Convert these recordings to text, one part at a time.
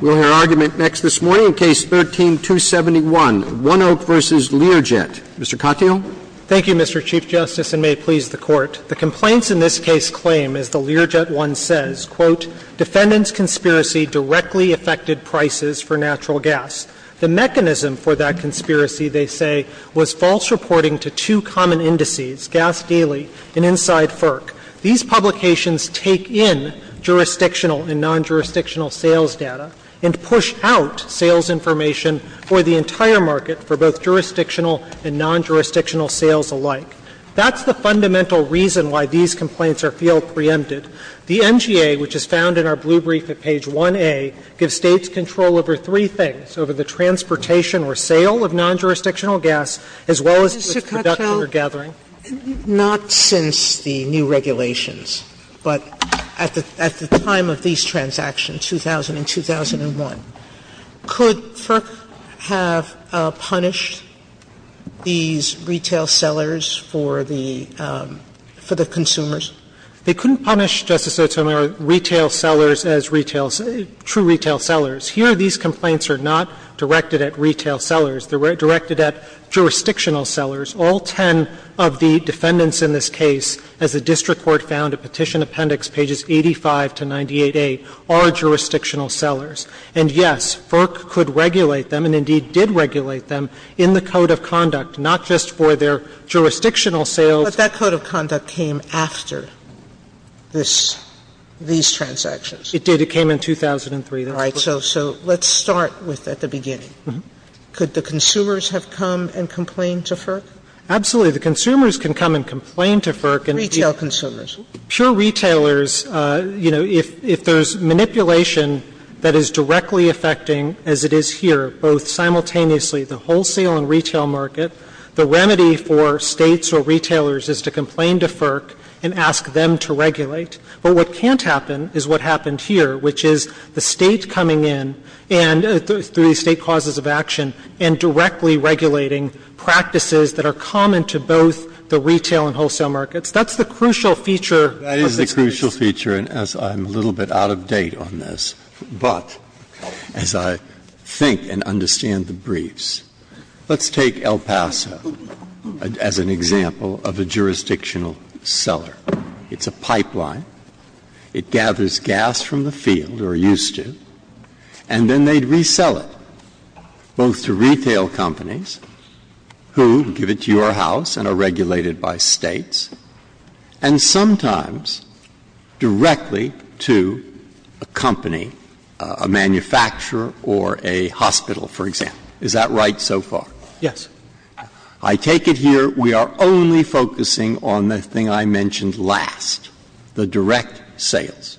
We'll hear argument next this morning in Case 13-271, Oneok v. Learjet. Mr. Katyal. Thank you, Mr. Chief Justice, and may it please the Court. The complaints in this case claim, as the Learjet one says, "'Defendants' conspiracy directly affected prices for natural gas. The mechanism for that conspiracy,' they say, was false reporting to two common indices, GasDaily and InsideFERC. These publications take in jurisdictional and non-jurisdictional sales data and push out sales information for the entire market for both jurisdictional and non-jurisdictional sales alike. That's the fundamental reason why these complaints are field preempted. The NGA, which is found in our blue brief at page 1A, gives States control over three things, over the transportation or sale of non-jurisdictional gas, as well as its production or gathering." Sotomayor, not since the new regulations, but at the time of these transactions, 2000 and 2001. Could FERC have punished these retail sellers for the consumers? They couldn't punish, Justice Sotomayor, retail sellers as true retail sellers. Here these complaints are not directed at retail sellers. They're directed at jurisdictional sellers. All ten of the defendants in this case, as the district court found at Petition Appendix pages 85 to 98a, are jurisdictional sellers. And yes, FERC could regulate them and indeed did regulate them in the code of conduct, not just for their jurisdictional sales. But that code of conduct came after this, these transactions. It did. It came in 2003. All right. So let's start with at the beginning. Could the consumers have come and complained to FERC? Absolutely. The consumers can come and complain to FERC. Retail consumers. Pure retailers, you know, if there's manipulation that is directly affecting, as it is here, both simultaneously the wholesale and retail market, the remedy for States or retailers is to complain to FERC and ask them to regulate. But what can't happen is what happened here, which is the State coming in and through the State causes of action and directly regulating practices that are common to both the retail and wholesale markets. That's the crucial feature of this case. That is the crucial feature. And as I'm a little bit out of date on this, but as I think and understand the briefs, let's take El Paso as an example of a jurisdictional seller. It's a pipeline. It gathers gas from the field, or used to, and then they'd resell it. Both to retail companies, who give it to your house and are regulated by States, and sometimes directly to a company, a manufacturer or a hospital, for example. Is that right so far? Yes. I take it here we are only focusing on the thing I mentioned last, the direct sales.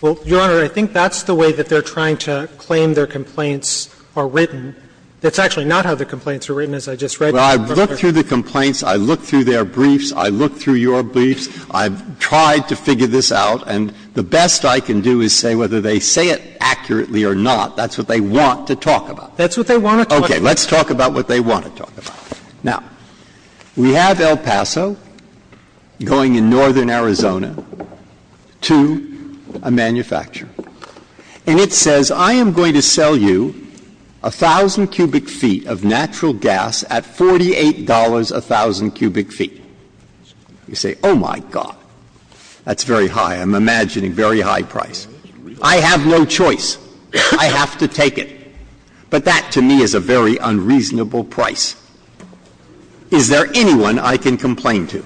Well, Your Honor, I think that's the way that they are trying to claim their complaints are written. That's actually not how the complaints are written, as I just read. Well, I've looked through the complaints. I've looked through their briefs. I've looked through your briefs. I've tried to figure this out. And the best I can do is say whether they say it accurately or not. That's what they want to talk about. That's what they want to talk about. Okay. Let's talk about what they want to talk about. Now, we have El Paso going in northern Arizona to a manufacturer. And it says, I am going to sell you 1,000 cubic feet of natural gas at $48 a 1,000 cubic feet. You say, oh, my God. That's very high. I'm imagining very high price. I have no choice. I have to take it. But that, to me, is a very unreasonable price. Is there anyone I can complain to?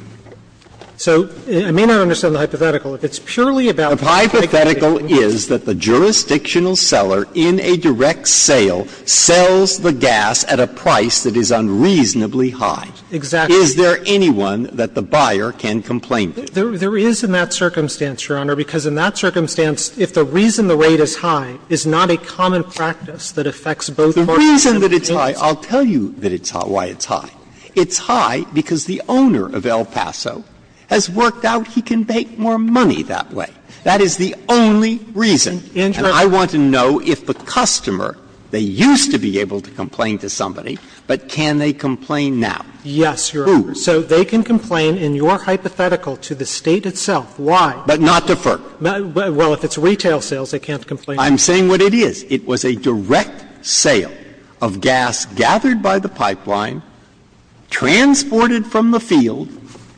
So I may not understand the hypothetical. If it's purely about the hypothetical, it's that the jurisdictional seller in a direct sale sells the gas at a price that is unreasonably high. Exactly. Is there anyone that the buyer can complain to? There is in that circumstance, Your Honor, because in that circumstance, if the reason the rate is high is not a common practice that affects both markets and the gas. The reason that it's high, I'll tell you that it's high, why it's high. It's high because the owner of El Paso has worked out he can make more money that way. That is the only reason. And I want to know if the customer, they used to be able to complain to somebody, but can they complain now? Yes, Your Honor. Who? So they can complain in your hypothetical to the State itself. Why? But not to FERC. Well, if it's retail sales, they can't complain. I'm saying what it is. It was a direct sale of gas gathered by the pipeline, transported from the field,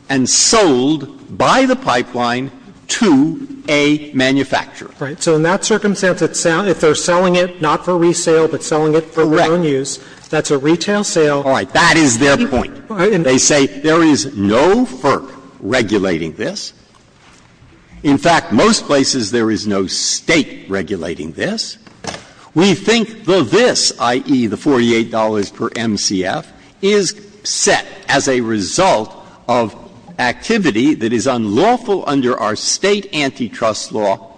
and sold by the pipeline to a manufacturer. Right. So in that circumstance, if they're selling it not for resale, but selling it for their own use, that's a retail sale. Correct. All right. That is their point. They say there is no FERC regulating this. In fact, most places there is no State regulating this. We think the this, i.e., the $48 per MCF, is set as a result of activity that is unlawful under our State antitrust law,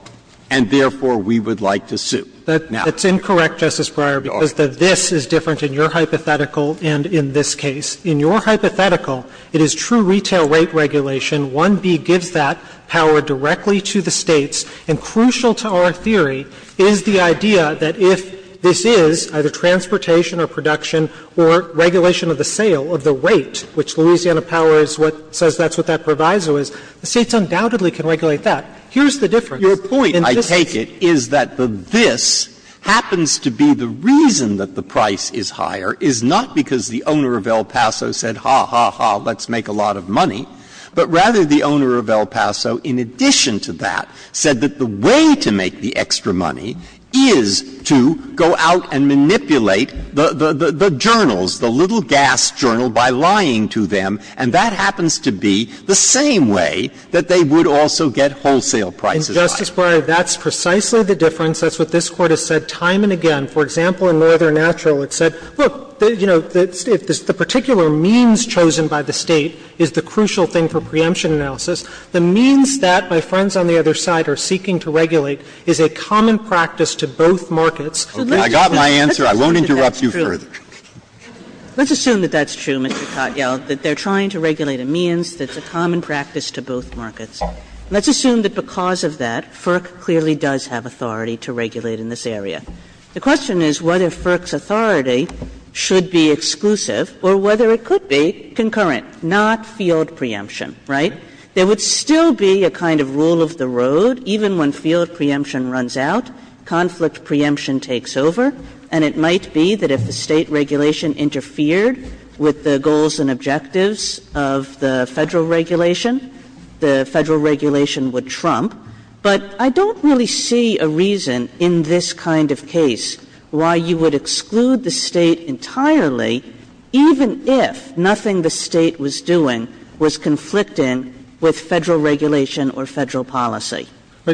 and therefore we would like to sue. That's incorrect, Justice Breyer, because the this is different in your hypothetical and in this case. In your hypothetical, it is true retail rate regulation. 1B gives that power directly to the States, and crucial to our theory is the idea that if this is either transportation or production or regulation of the sale of the rate, which Louisiana Power is what says that's what that proviso is, the States undoubtedly can regulate that. Here's the difference. Your point, I take it, is that the this happens to be the reason that the price is higher, is not because the owner of El Paso said, ha, ha, ha, let's make a lot of money, but rather the owner of El Paso, in addition to that, said that the way to make the extra money is to go out and manipulate the journals, the little gas journal, by lying to them, and that happens to be the same way that they would also get wholesale prices higher. And, Justice Breyer, that's precisely the difference. That's what this Court has said time and again. For example, in Northern Natural, it said, look, you know, if the particular means chosen by the State is the crucial thing for preemption analysis, the means that my friends on the other side are seeking to regulate is a common practice to both markets. I got my answer. I won't interrupt you further. Kagan. Let's assume that that's true, Mr. Cotgiel, that they're trying to regulate a means that's a common practice to both markets. Let's assume that because of that, FERC clearly does have authority to regulate in this area. The question is whether FERC's authority should be exclusive or whether it could be concurrent, not field preemption, right? There would still be a kind of rule of the road, even when field preemption runs out, conflict preemption takes over, and it might be that if the State regulation interfered with the goals and objectives of the Federal regulation, the Federal regulation would trump. But I don't really see a reason in this kind of case why you would exclude the State entirely, even if nothing the State was doing was conflicting with Federal regulation or Federal policy.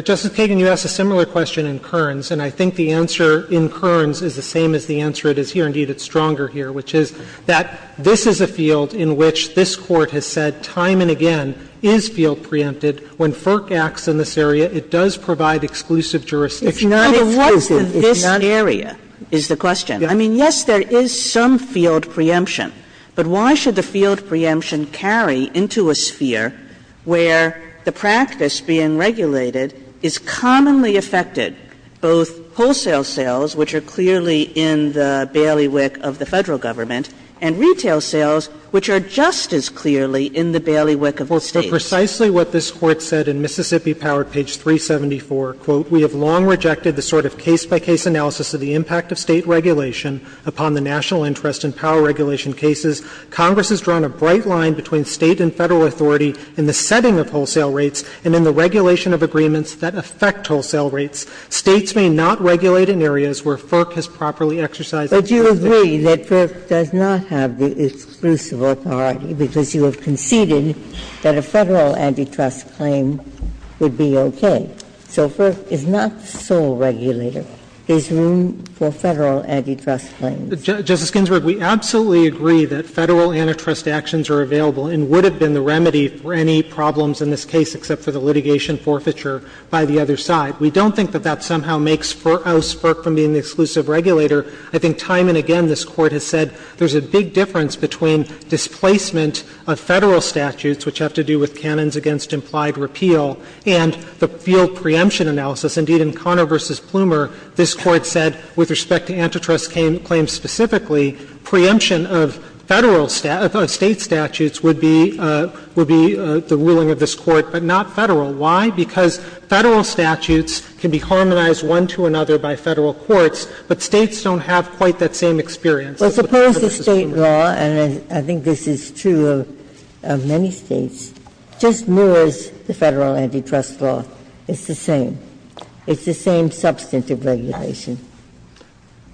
Justice Kagan, you asked a similar question in Kerns, and I think the answer in Kerns is the same as the answer it is here. Indeed, it's stronger here, which is that this is a field in which this Court has said that time and again is field preempted. When FERC acts in this area, it does provide exclusive jurisdiction. It's not exclusive, it's not exclusive. Kagan, what is in this area, is the question. I mean, yes, there is some field preemption, but why should the field preemption carry into a sphere where the practice being regulated is commonly affected, both wholesale sales, which are clearly in the bailiwick of the Federal government, and retail sales, which are just as clearly in the bailiwick of the State? For precisely what this Court said in Mississippi Power, page 374, quote, We have long rejected the sort of case-by-case analysis of the impact of State regulation upon the national interest in power regulation cases. Congress has drawn a bright line between State and Federal authority in the setting of wholesale rates and in the regulation of agreements that affect wholesale rates. But you agree that FERC does not have the exclusive authority because you have conceded that a Federal antitrust claim would be okay. So FERC is not the sole regulator. There's room for Federal antitrust claims. Justice Ginsburg, we absolutely agree that Federal antitrust actions are available and would have been the remedy for any problems in this case except for the litigation forfeiture by the other side. We don't think that that somehow makes FERC oust FERC from being the exclusive regulator. I think time and again this Court has said there's a big difference between displacement of Federal statutes, which have to do with canons against implied repeal, and the field preemption analysis. Indeed, in Conner v. Plumer, this Court said, with respect to antitrust claims specifically, preemption of Federal State statutes would be the ruling of this Court, but not Federal. Why? Because Federal statutes can be harmonized one to another by Federal courts, but States don't have quite that same experience. Well, suppose the State law, and I think this is true of many States, just mirrors the Federal antitrust law. It's the same. It's the same substantive regulation.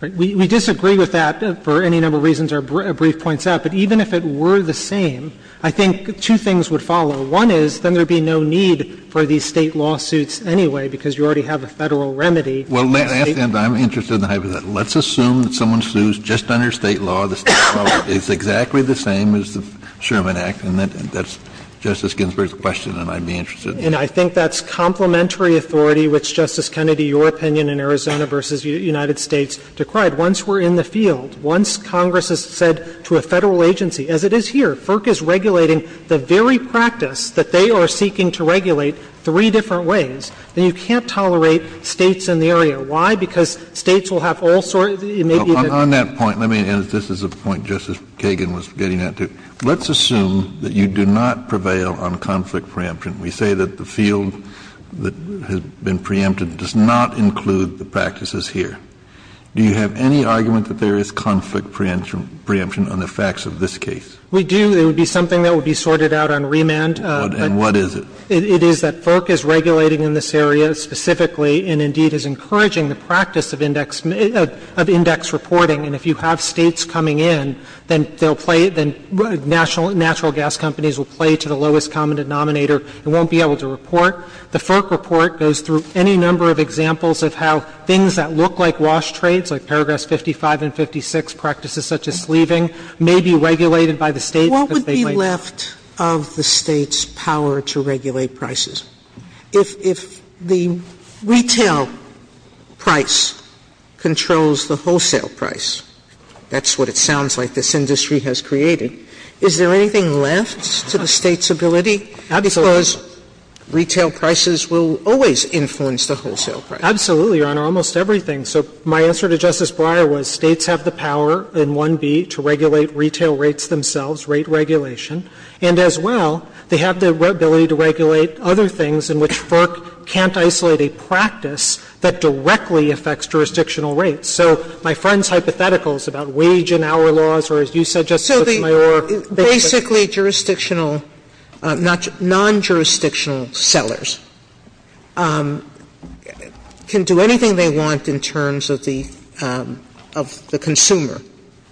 We disagree with that for any number of reasons our brief points out, but even if it were the same, I think two things would follow. One is, then there would be no need for these State lawsuits anyway, because you already have a Federal remedy. Kennedy, I'm interested in the hypothetical. Let's assume that someone sues just under State law, the State law is exactly the same as the Sherman Act, and that's Justice Ginsburg's question and I'd be interested in that. And I think that's complementary authority, which, Justice Kennedy, your opinion in Arizona v. United States decried. Once we're in the field, once Congress has said to a Federal agency, as it is here, FERC is regulating the very practice that they are seeking to regulate three different ways, then you can't tolerate States in the area. Why? Because States will have all sorts of – it may be that they're not going to do it. Kennedy, on that point, let me – and this is a point Justice Kagan was getting at, too. Let's assume that you do not prevail on conflict preemption. We say that the field that has been preempted does not include the practices here. Do you have any argument that there is conflict preemption on the facts of this case? We do. There would be something that would be sorted out on remand. And what is it? It is that FERC is regulating in this area specifically and, indeed, is encouraging the practice of index – of index reporting. And if you have States coming in, then they'll play – then natural gas companies will play to the lowest common denominator and won't be able to report. The FERC report goes through any number of examples of how things that look like wash trades, like Paragraphs 55 and 56, practices such as sleeving, may be regulated by the State because they might – Sotomayor, is there anything left of the State's power to regulate prices? If the retail price controls the wholesale price, that's what it sounds like this industry has created, is there anything left to the State's ability? Absolutely. Because retail prices will always influence the wholesale price. Absolutely, Your Honor. Almost everything. So my answer to Justice Breyer was States have the power in 1B to regulate retail rates themselves, rate regulation, and as well, they have the ability to regulate other things in which FERC can't isolate a practice that directly affects jurisdictional rates. So my friend's hypothetical is about wage and hour laws, or as you said, Justice Sotomayor, they could do anything. If a non-jurisdictional, non-jurisdictional sellers can do anything they want in terms of the consumer,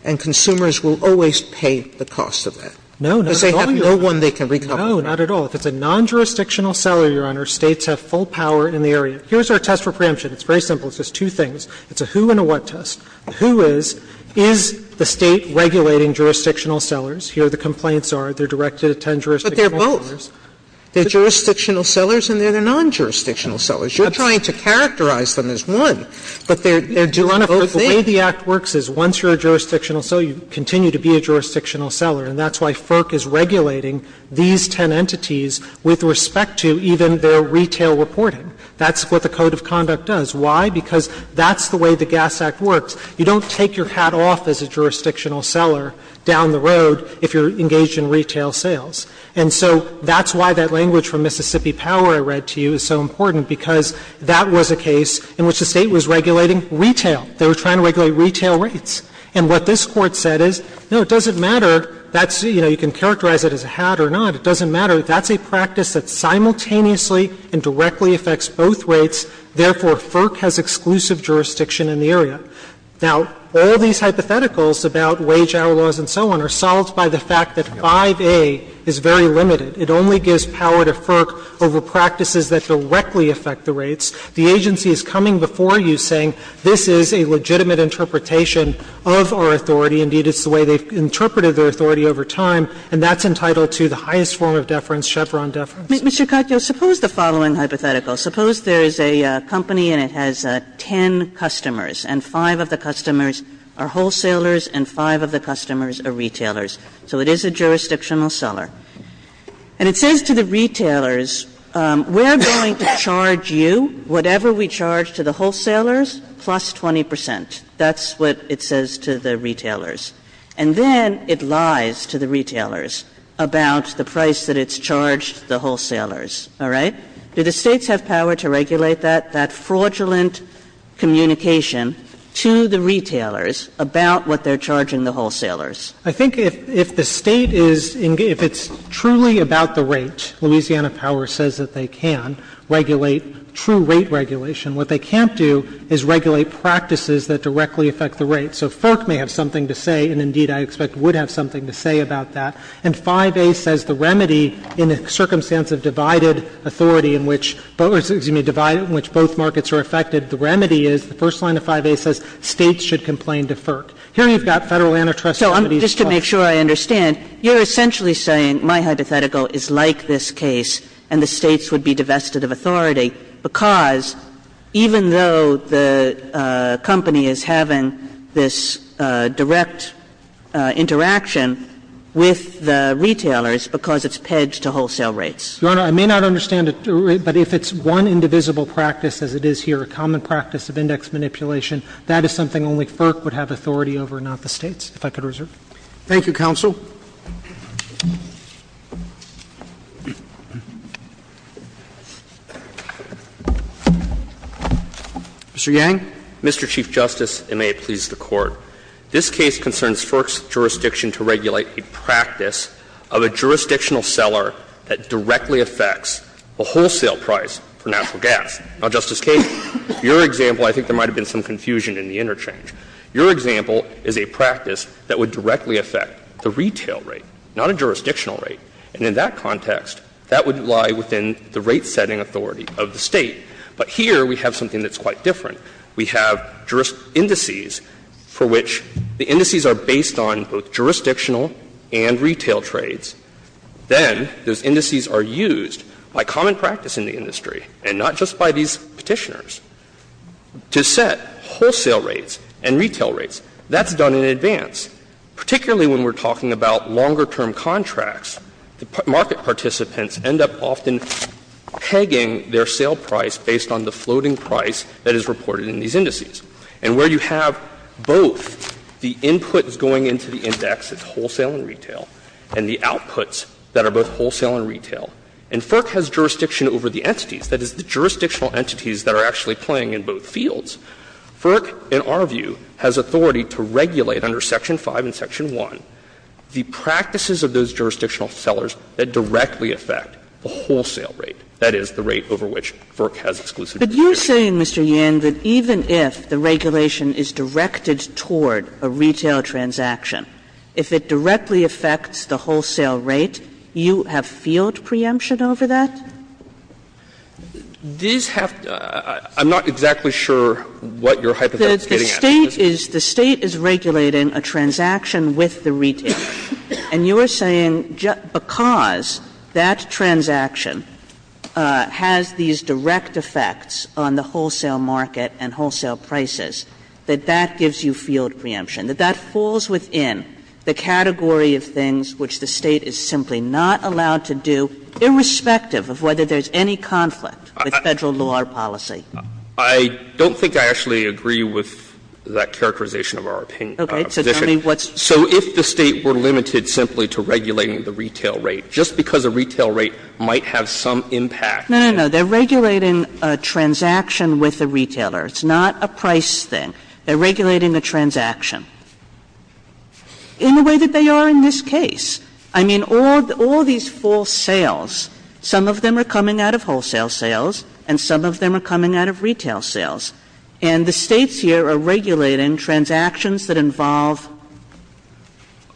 and consumers will always pay the cost of that. No, not at all, Your Honor. Because they have no one they can recouple with. No, not at all. If it's a non-jurisdictional seller, Your Honor, States have full power in the area. Here's our test for preemption. It's very simple. It's just two things. It's a who and a what test. The who is, is the State regulating jurisdictional sellers? Here the complaints are. They're directed at ten jurisdictional sellers. Sotomayor, But they're both. They're jurisdictional sellers and they're the non-jurisdictional sellers. You're trying to characterize them as one. But they're, they're both things. The way the Act works is once you're a jurisdictional seller, you continue to be a jurisdictional seller. And that's why FERC is regulating these ten entities with respect to even their retail reporting. That's what the Code of Conduct does. Why? Because that's the way the GAS Act works. You don't take your hat off as a jurisdictional seller down the road if you're engaged in retail sales. And so that's why that language from Mississippi Power I read to you is so important, because that was a case in which the State was regulating retail. They were trying to regulate retail rates. And what this Court said is, no, it doesn't matter, that's, you know, you can characterize it as a hat or not. It doesn't matter. That's a practice that simultaneously and directly affects both rates. Therefore, FERC has exclusive jurisdiction in the area. Now, all these hypotheticals about wage hour laws and so on are solved by the fact that 5A is very limited. It only gives power to FERC over practices that directly affect the rates. The agency is coming before you saying this is a legitimate interpretation of our authority. Indeed, it's the way they've interpreted their authority over time, and that's entitled to the highest form of deference, Chevron deference. Kagan, suppose the following hypothetical. Suppose there is a company and it has ten customers, and five of the customers are wholesalers and five of the customers are retailers. So it is a jurisdictional seller. And it says to the retailers, we're going to charge you whatever we charge to the wholesalers plus 20 percent. That's what it says to the retailers. And then it lies to the retailers about the price that it's charged the wholesalers. All right? Do the States have power to regulate that, that fraudulent communication to the retailers about what they're charging the wholesalers? I think if the State is — if it's truly about the rate, Louisiana Power says that they can regulate true rate regulation. What they can't do is regulate practices that directly affect the rates. So FERC may have something to say, and indeed I expect would have something to say about that. And 5A says the remedy in a circumstance of divided authority in which — or, excuse me, divided in which both markets are affected, the remedy is, the first line of 5A says States should complain to FERC. Here you've got Federal antitrust remedies. Kagan. So just to make sure I understand, you're essentially saying my hypothetical is like this case and the States would be divested of authority because even though the company is having this direct interaction with the retailers because it's pedged to wholesale rates. Your Honor, I may not understand it, but if it's one indivisible practice as it is here, a common practice of index manipulation, that is something only FERC would have authority over, not the States, if I could reserve. Thank you, counsel. Mr. Yang. Mr. Chief Justice, and may it please the Court. This case concerns FERC's jurisdiction to regulate a practice of a jurisdictional seller that directly affects the wholesale price for natural gas. Now, Justice Kagan, your example, I think there might have been some confusion in the interchange. Your example is a practice that would directly affect the retail rate, not a jurisdictional rate. And in that context, that would lie within the rate-setting authority of the State. But here we have something that's quite different. We have indices for which the indices are based on both jurisdictional and retail trades. Then those indices are used by common practice in the industry and not just by these Petitioners to set wholesale rates and retail rates. That's done in advance, particularly when we're talking about longer-term contracts. The market participants end up often pegging their sale price based on the floating price that is reported in these indices. And where you have both the inputs going into the index, it's wholesale and retail, and the outputs that are both wholesale and retail. And FERC has jurisdiction over the entities. That is, the jurisdictional entities that are actually playing in both fields. FERC, in our view, has authority to regulate under Section 5 and Section 1 the practices of those jurisdictional sellers that directly affect the wholesale rate, that is, the rate over which FERC has exclusive jurisdiction. Kagan, but you're saying, Mr. Yan, that even if the regulation is directed toward a retail transaction, if it directly affects the wholesale rate, you have field preemption over that? Yan, I'm not exactly sure what your hypothetical is getting at. Kagan, the State is regulating a transaction with the retailer. And you are saying because that transaction has these direct effects on the wholesale market and wholesale prices, that that gives you field preemption, that that falls within the category of things which the State is simply not allowed to do, irrespective of whether there's any conflict with Federal law or policy? I don't think I actually agree with that characterization of our position. Okay. So tell me what's the point. So if the State were limited simply to regulating the retail rate, just because a retail rate might have some impact. No, no, no. They're regulating a transaction with the retailer. It's not a price thing. They're regulating a transaction. In the way that they are in this case. I mean, all these false sales, some of them are coming out of wholesale sales and some of them are coming out of retail sales. And the States here are regulating transactions that involve the retailer.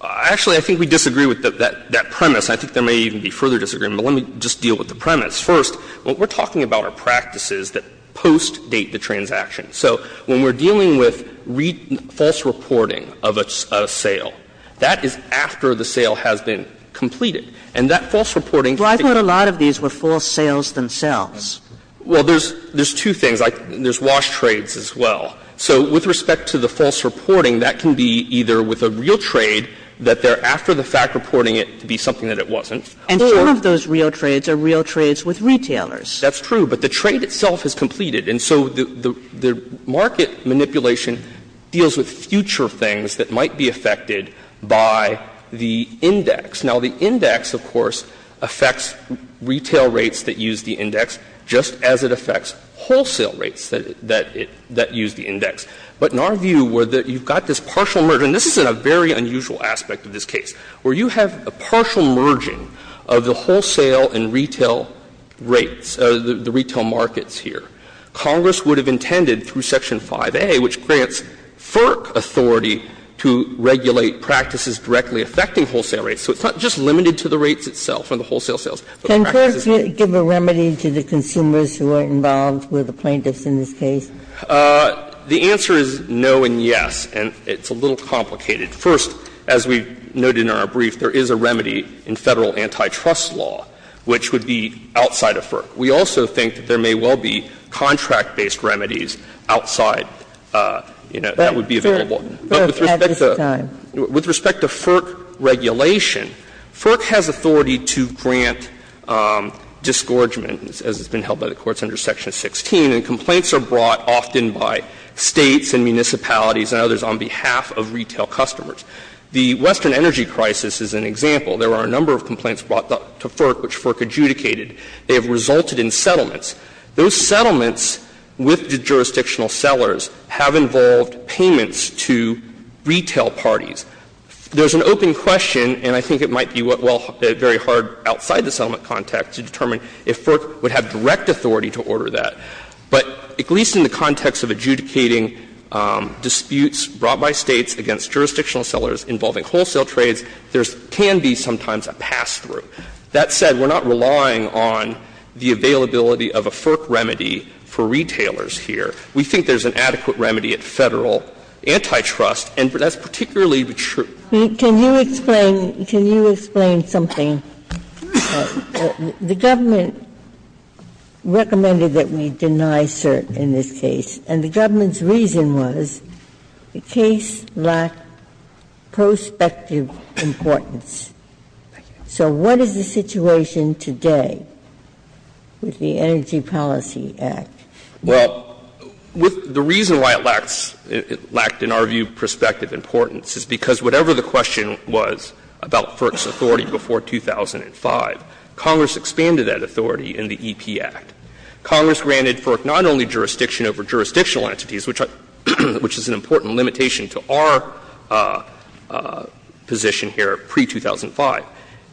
Actually, I think we disagree with that premise. I think there may even be further disagreement, but let me just deal with the premise. First, what we're talking about are practices that post-date the transaction. So when we're dealing with false reporting of a sale, that is after the sale has been completed. And that false reporting can be. Well, I thought a lot of these were false sales themselves. Well, there's two things. There's wash trades as well. So with respect to the false reporting, that can be either with a real trade, that they're after the fact reporting it to be something that it wasn't, or. And some of those real trades are real trades with retailers. That's true, but the trade itself is completed. And so the market manipulation deals with future things that might be affected by the index. Now, the index, of course, affects retail rates that use the index just as it affects wholesale rates that use the index. But in our view, where you've got this partial merger, and this is a very unusual aspect of this case, where you have a partial merging of the wholesale and retail rates, the retail markets here, Congress would have intended through Section 5a, which grants FERC authority to regulate practices directly affecting wholesale rates. So it's not just limited to the rates itself and the wholesale sales. But the practice is not. Ginsburg can't give a remedy to the consumers who are involved with the plaintiffs in this case? The answer is no and yes, and it's a little complicated. First, as we noted in our brief, there is a remedy in Federal antitrust law which would be outside of FERC. We also think that there may well be contract-based remedies outside, you know, that would be available. But with respect to FERC regulation, FERC has authority to grant disgorgement, as has been held by the courts under Section 16, and complaints are brought often by States and municipalities and others on behalf of retail customers. The Western energy crisis is an example. There are a number of complaints brought to FERC which FERC adjudicated. They have resulted in settlements. Those settlements with jurisdictional sellers have involved payments to retail parties. There's an open question, and I think it might be very hard outside the settlement context to determine if FERC would have direct authority to order that. But at least in the context of adjudicating disputes brought by States against jurisdictional sellers involving wholesale trades, there can be sometimes a pass-through. That said, we're not relying on the availability of a FERC remedy for retailers here. We think there's an adequate remedy at Federal antitrust, and that's particularly true. Ginsburg. Can you explain can you explain something? The government recommended that we deny cert in this case, and the government's reason was the case lacked prospective importance. So what is the situation today with the Energy Policy Act? Well, the reason why it lacks, it lacked in our view, prospective importance is because whatever the question was about FERC's authority before 2005, Congress expanded that authority in the EP Act. Congress granted FERC not only jurisdiction over jurisdictional entities, which is an important limitation to our position here pre-2005,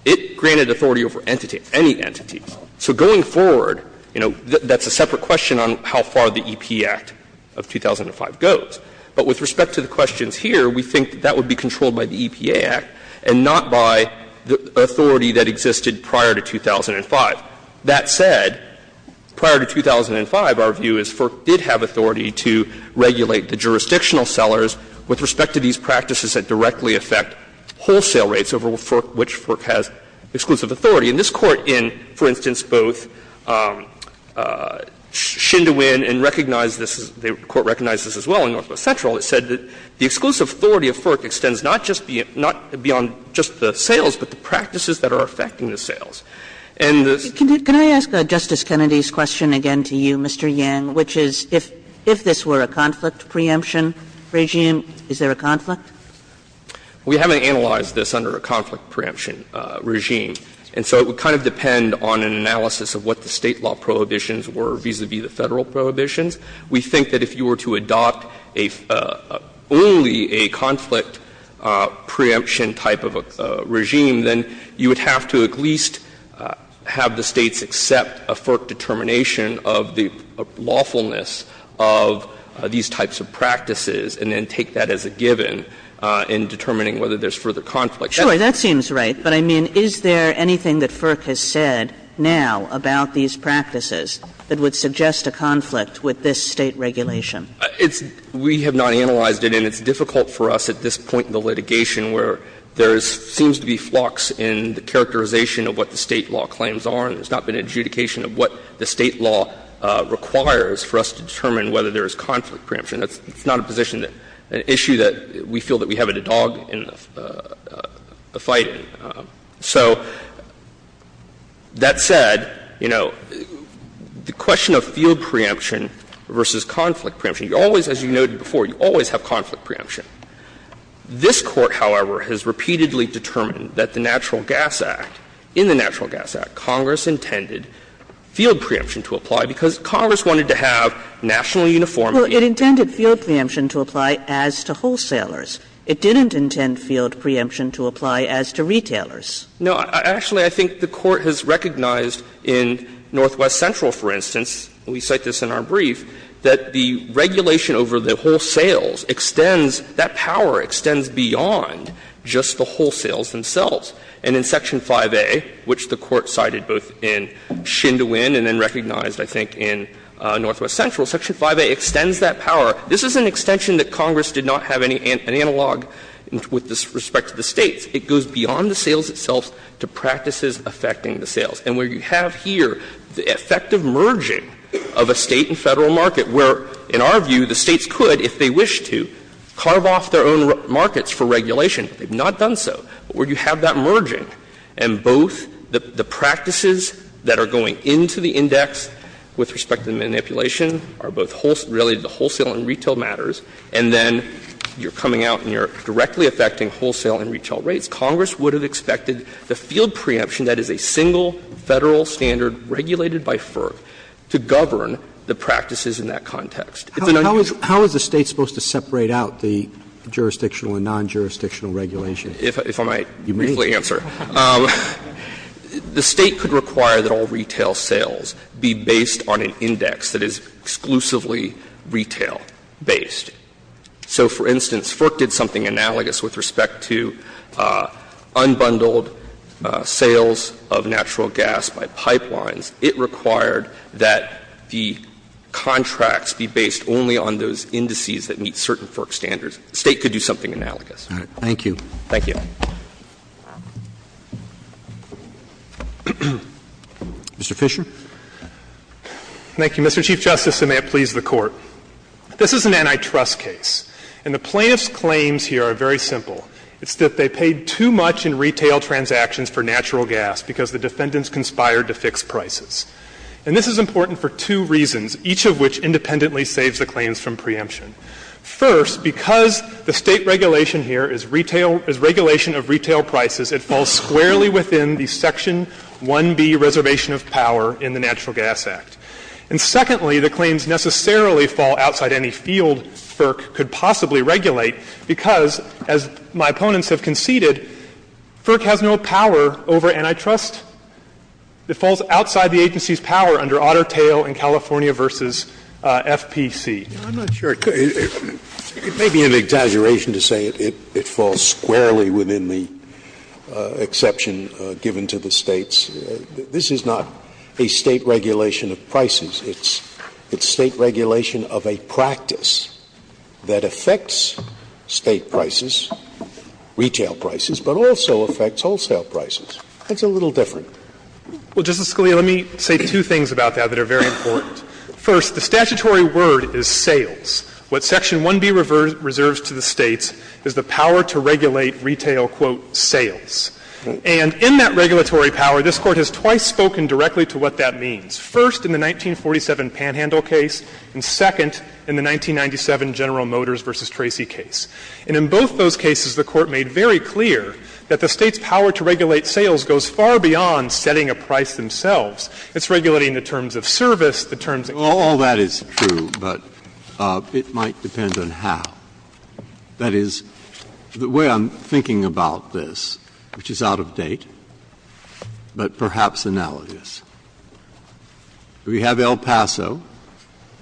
it granted authority over entities, any entities. So going forward, you know, that's a separate question on how far the EP Act of 2005 goes. But with respect to the questions here, we think that that would be controlled by the EPA Act and not by the authority that existed prior to 2005. That said, prior to 2005, our view is FERC did have authority to regulate the jurisdictional sellers with respect to these practices that directly affect wholesale rates over which FERC has exclusive authority. And this Court in, for instance, both Shindowin and recognized this, the Court recognized this as well in Northwest Central, it said that the exclusive authority of FERC extends not just beyond just the sales, but the practices that are affecting the sales. And the Kagan Can I ask Justice Kennedy's question again to you, Mr. Yang, which is if this were a conflict preemption regime, is there a conflict? Yang We haven't analyzed this under a conflict preemption regime. And so it would kind of depend on an analysis of what the State law prohibitions were vis-a-vis the Federal prohibitions. And if it were a conflict preemption regime, then you would have to at least have the States accept a FERC determination of the lawfulness of these types of practices and then take that as a given in determining whether there's further conflict. Kagan Sure, that seems right, but, I mean, is there anything that FERC has said now about these practices that would suggest a conflict with this State regulation? Yang It's — we have not analyzed it, and it's difficult for us at this point in the litigation where there seems to be flux in the characterization of what the State law claims are, and there's not been adjudication of what the State law requires for us to determine whether there is conflict preemption. It's not a position that — an issue that we feel that we have a dog in the — a fight in. So, that said, you know, the question of field preemption versus conflict preemption — you always, as you noted before, you always have conflict preemption. This Court, however, has repeatedly determined that the Natural Gas Act, in the Natural Gas Act, Congress intended field preemption to apply because Congress wanted to have national uniformity. Kagan Well, it intended field preemption to apply as to wholesalers. It didn't intend field preemption to apply as to retailers. Yang No, actually, I think the Court has recognized in Northwest Central, for instance — and we cite this in our brief — that the regulation over the wholesales extends, that power extends beyond just the wholesales themselves. And in Section 5A, which the Court cited both in Shindouin and then recognized, I think, in Northwest Central, Section 5A extends that power. This is an extension that Congress did not have any analog with respect to the States. It goes beyond the sales itself to practices affecting the sales. And where you have here the effective merging of a State and Federal market, where, in our view, the States could, if they wished to, carve off their own markets for regulation, but they have not done so, but where you have that merging, and both the practices that are going into the index with respect to the manipulation are both related to wholesale and retail matters, and then you are coming out and you are directly affecting wholesale and retail rates, Congress would have expected the field preemption that is a single Federal standard regulated by FERC to govern the practices in that context. It's an unusual— Roberts, how is the State supposed to separate out the jurisdictional and non-jurisdictional regulations? If I might briefly answer. You may. The State could require that all retail sales be based on an index that is exclusively retail-based. So, for instance, FERC did something analogous with respect to unbundled sales of natural gas by pipelines. It required that the contracts be based only on those indices that meet certain FERC standards. The State could do something analogous. Roberts. Thank you. Thank you. Mr. Fisher. Thank you, Mr. Chief Justice, and may it please the Court. This is an antitrust case, and the plaintiff's claims here are very simple. It's that they paid too much in retail transactions for natural gas because the defendants conspired to fix prices. And this is important for two reasons, each of which independently saves the claims from preemption. First, because the State regulation here is retail — is regulation of retail prices, it falls squarely within the Section 1B reservation of power in the Natural Gas Act. And secondly, the claims necessarily fall outside any field FERC could possibly regulate, because, as my opponents have conceded, FERC has no power over antitrust. It falls outside the agency's power under Otter Tail in California v. FPC. Scalia. I'm not sure it could — it may be an exaggeration to say it falls squarely within the exception given to the States. This is not a State regulation of prices. It's State regulation of a practice that affects State prices, retail prices, but also affects wholesale prices. That's a little different. Well, Justice Scalia, let me say two things about that that are very important. First, the statutory word is sales. What Section 1B reserves to the States is the power to regulate retail, quote, sales. And in that regulatory power, this Court has twice spoken directly to what that means, first in the 1947 Panhandle case, and second in the 1997 General Motors v. Tracy case. And in both those cases, the Court made very clear that the State's power to regulate sales goes far beyond setting a price themselves. It's regulating the terms of service, the terms of— Breyer. Well, all that is true, but it might depend on how. That is, the way I'm thinking about this, which is out of date, but perhaps analogous. We have El Paso.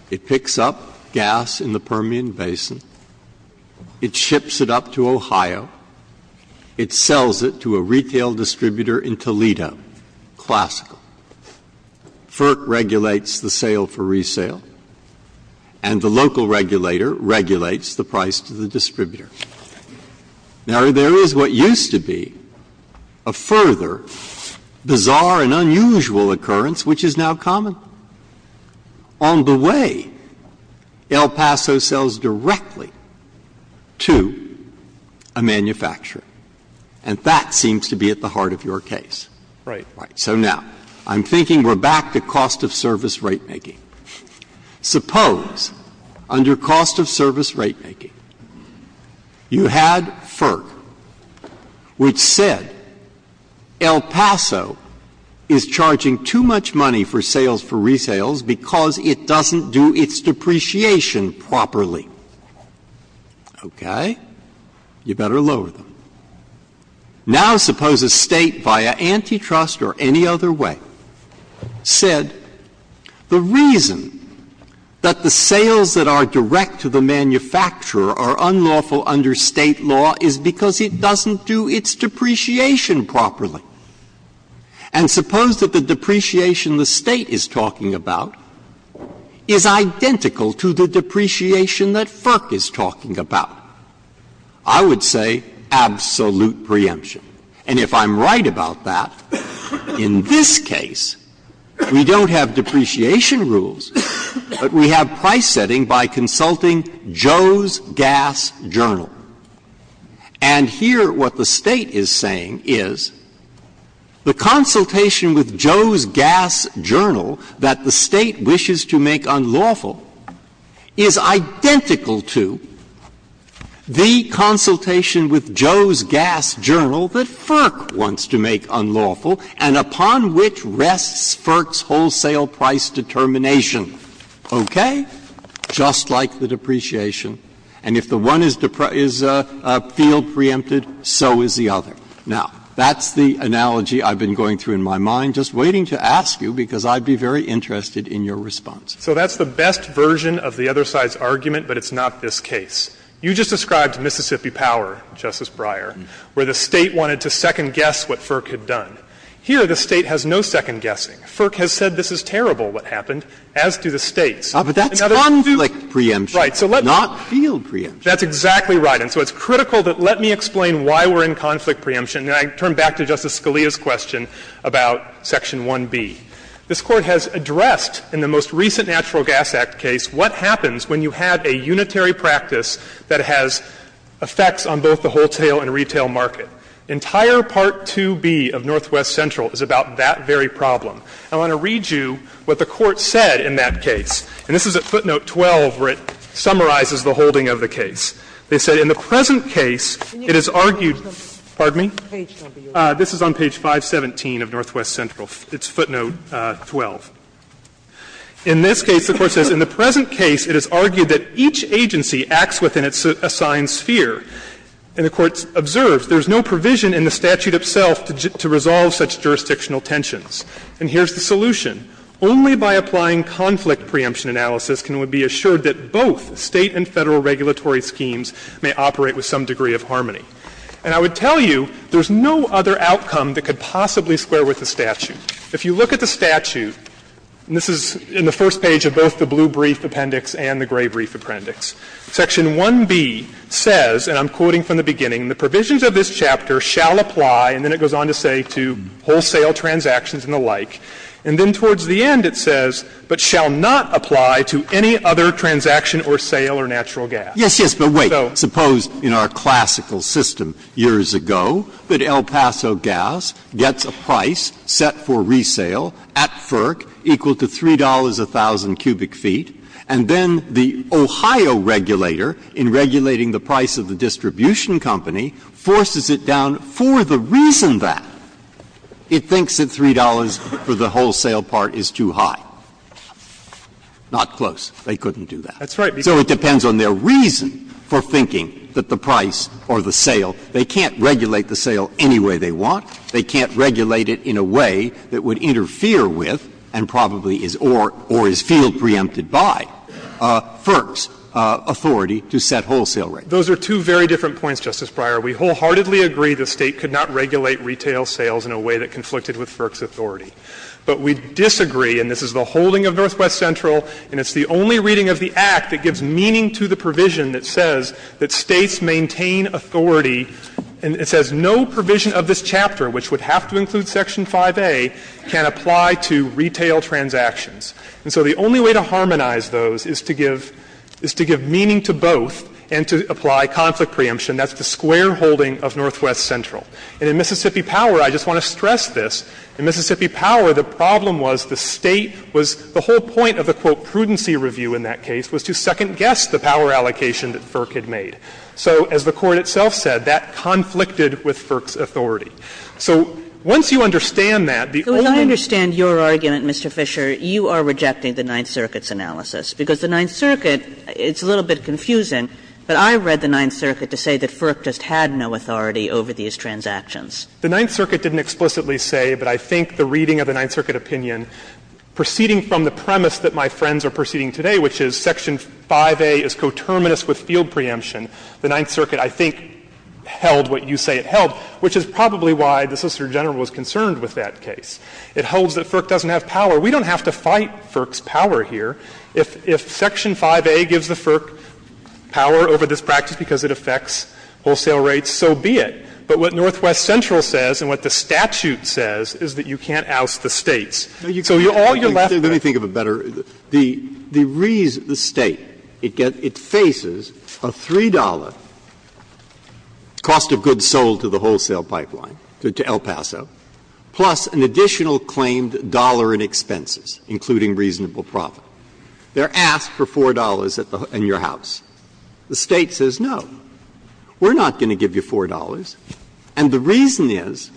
It picks up gas in the Permian Basin. It ships it up to Ohio. It sells it to a retail distributor in Toledo. Classical. FERC regulates the sale for resale. And the local regulator regulates the price to the distributor. Now, there is what used to be a further bizarre and unusual occurrence, which is now common. On the way, El Paso sells directly to a manufacturer. And that seems to be at the heart of your case. Right. Right. So now, I'm thinking we're back to cost of service ratemaking. Suppose, under cost of service ratemaking, you had FERC, which said El Paso is charging too much money for sales for resales because it doesn't do its depreciation properly. Okay. You better lower them. Now, suppose a State, via antitrust or any other way, said the reason that the sales that are direct to the manufacturer are unlawful under State law is because it doesn't do its depreciation properly. And suppose that the depreciation the State is talking about is identical to the depreciation that FERC is talking about. I would say absolute preemption. And if I'm right about that, in this case, we don't have depreciation rules, but we have price setting by consulting Joe's Gas Journal. And here, what the State is saying is the consultation with Joe's Gas Journal that the State wishes to make unlawful is identical to the consultation with Joe's Gas Journal that FERC wants to make unlawful and upon which rests FERC's wholesale price determination, okay, just like the depreciation. And if the one is field preempted, so is the other. Now, that's the analogy I've been going through in my mind, just waiting to ask you, because I'd be very interested in your response. Fisherman So that's the best version of the other side's argument, but it's not this case. You just described Mississippi Power, Justice Breyer, where the State wanted to second guess what FERC had done. Here, the State has no second guessing. FERC has said this is terrible, what happened, as do the States. And now they're going to do the other. Breyer But that's conflict preemption, not field preemption. Fisherman That's exactly right. And so it's critical that let me explain why we're in conflict preemption. And I turn back to Justice Scalia's question about section 1B. This Court has addressed in the most recent Natural Gas Act case what happens when you have a unitary practice that has effects on both the wholesale and retail market. Entire Part 2B of Northwest Central is about that very problem. I want to read you what the Court said in that case. And this is at footnote 12 where it summarizes the holding of the case. They said, In the present case, it is argued Pardon me? This is on page 517 of Northwest Central. It's footnote 12. In this case, the Court says, In the present case, it is argued that each agency acts within its assigned sphere. And the Court observes, There is no provision in the statute itself to resolve such jurisdictional tensions. And here's the solution. Only by applying conflict preemption analysis can it be assured that both State and Federal regulatory schemes may operate with some degree of harmony. And I would tell you there's no other outcome that could possibly square with the statute. If you look at the statute, and this is in the first page of both the blue brief appendix and the gray brief appendix, Section 1B says, and I'm quoting from the beginning, The provisions of this chapter shall apply, and then it goes on to say, to wholesale transactions and the like. And then towards the end it says, but shall not apply to any other transaction or sale or natural gas. So. Breyer. Yes, yes, but wait. Suppose in our classical system years ago that El Paso Gas gets a price set for resale at FERC equal to $3 a thousand cubic feet, and then the Ohio regulator, in regulating the price of the distribution company, forces it down for the reason that it thinks that $3 for the wholesale part is too high. Not close. They couldn't do that. That's right. So it depends on their reason for thinking that the price or the sale, they can't regulate the sale any way they want. They can't regulate it in a way that would interfere with and probably is or is field preempted by FERC's authority to set wholesale rates. Those are two very different points, Justice Breyer. We wholeheartedly agree the State could not regulate retail sales in a way that conflicted with FERC's authority. But we disagree, and this is the holding of Northwest Central, and it's the only reading of the Act that gives meaning to the provision that says that States maintain authority, and it says no provision of this chapter, which would have to include Section 5A, can apply to retail transactions. And so the only way to harmonize those is to give meaning to both and to apply conflict preemption. That's the square holding of Northwest Central. And in Mississippi Power, I just want to stress this, in Mississippi Power, the problem was the State was the whole point of the, quote, prudency review in that case was to second-guess the power allocation that FERC had made. So as the Court itself said, that conflicted with FERC's authority. So once you understand that, the only way to understand that is to say that FERC just had no authority over these transactions. Kagan, I understand your argument, Mr. Fisher, you are rejecting the Ninth Circuit's analysis, because the Ninth Circuit, it's a little bit confusing, but I read the Ninth Circuit's analysis, and proceeding from the premise that my friends are proceeding today, which is Section 5A is coterminous with field preemption, the Ninth Circuit, I think, held what you say it held, which is probably why the Solicitor General was concerned with that case. It holds that FERC doesn't have power. We don't have to fight FERC's power here. If Section 5A gives the FERC power over this practice because it affects wholesale rates, so be it. But what Northwest Central says and what the statute says is that you can't oust the States. So all you're left with is that you can't oust the States. Breyer, let me think of it better. The State, it faces a $3 cost of goods sold to the wholesale pipeline, to El Paso, plus an additional claimed dollar in expenses, including reasonable profit. They are asked for $4 in your house. The State says no. We're not going to give you $4, and the reason is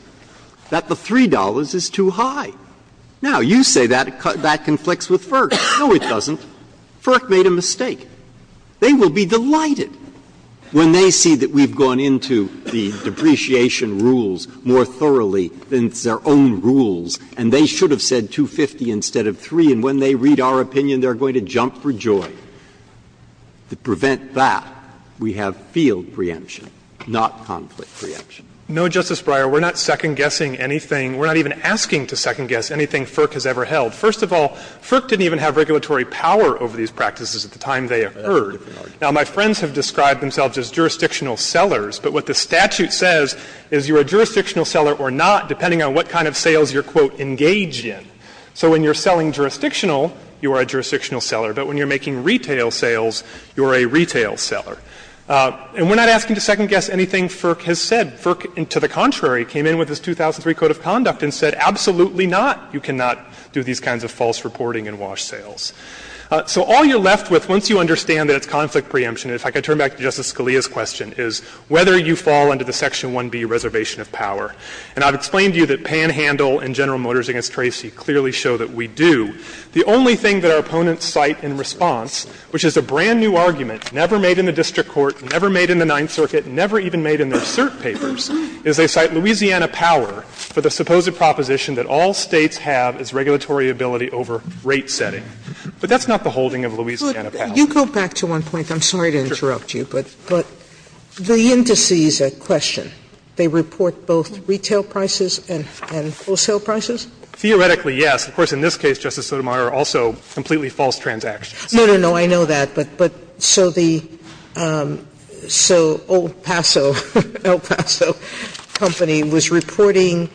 that the $3 is too high. Now, you say that conflicts with FERC. No, it doesn't. FERC made a mistake. They will be delighted when they see that we've gone into the depreciation rules more thoroughly than their own rules, and they should have said $2.50 instead of $3, and when they read our opinion, they're going to jump for joy. To prevent that, we have field preemption, not conflict preemption. Fisherman, no, Justice Breyer, we're not second-guessing anything. We're not even asking to second-guess anything FERC has ever held. First of all, FERC didn't even have regulatory power over these practices at the time they occurred. Now, my friends have described themselves as jurisdictional sellers, but what the statute says is you're a jurisdictional seller or not depending on what kind of sales you're, quote, engaged in. So when you're selling jurisdictional, you are a jurisdictional seller. But when you're making retail sales, you're a retail seller. And we're not asking to second-guess anything FERC has said. FERC, to the contrary, came in with its 2003 Code of Conduct and said, absolutely not, you cannot do these kinds of false reporting and wash sales. So all you're left with, once you understand that it's conflict preemption, and if I could turn back to Justice Scalia's question, is whether you fall under the Section 1B reservation of power. And I've explained to you that Panhandle and General Motors v. Tracy clearly show that we do. The only thing that our opponents cite in response, which is a brand-new argument, never made in the district court, never made in the Ninth Circuit, never even made in their cert papers, is they cite Louisiana Power for the supposed proposition that all States have is regulatory ability over rate setting. But that's not the holding of Louisiana Power. Sotomayor You go back to one point. I'm sorry to interrupt you, but the indices at question, they report both retail prices and wholesale prices? Fisher Theoretically, yes. Of course, in this case, Justice Sotomayor, also completely false transactions. Sotomayor No, no, no, I know that, but so the so El Paso, El Paso Company was reporting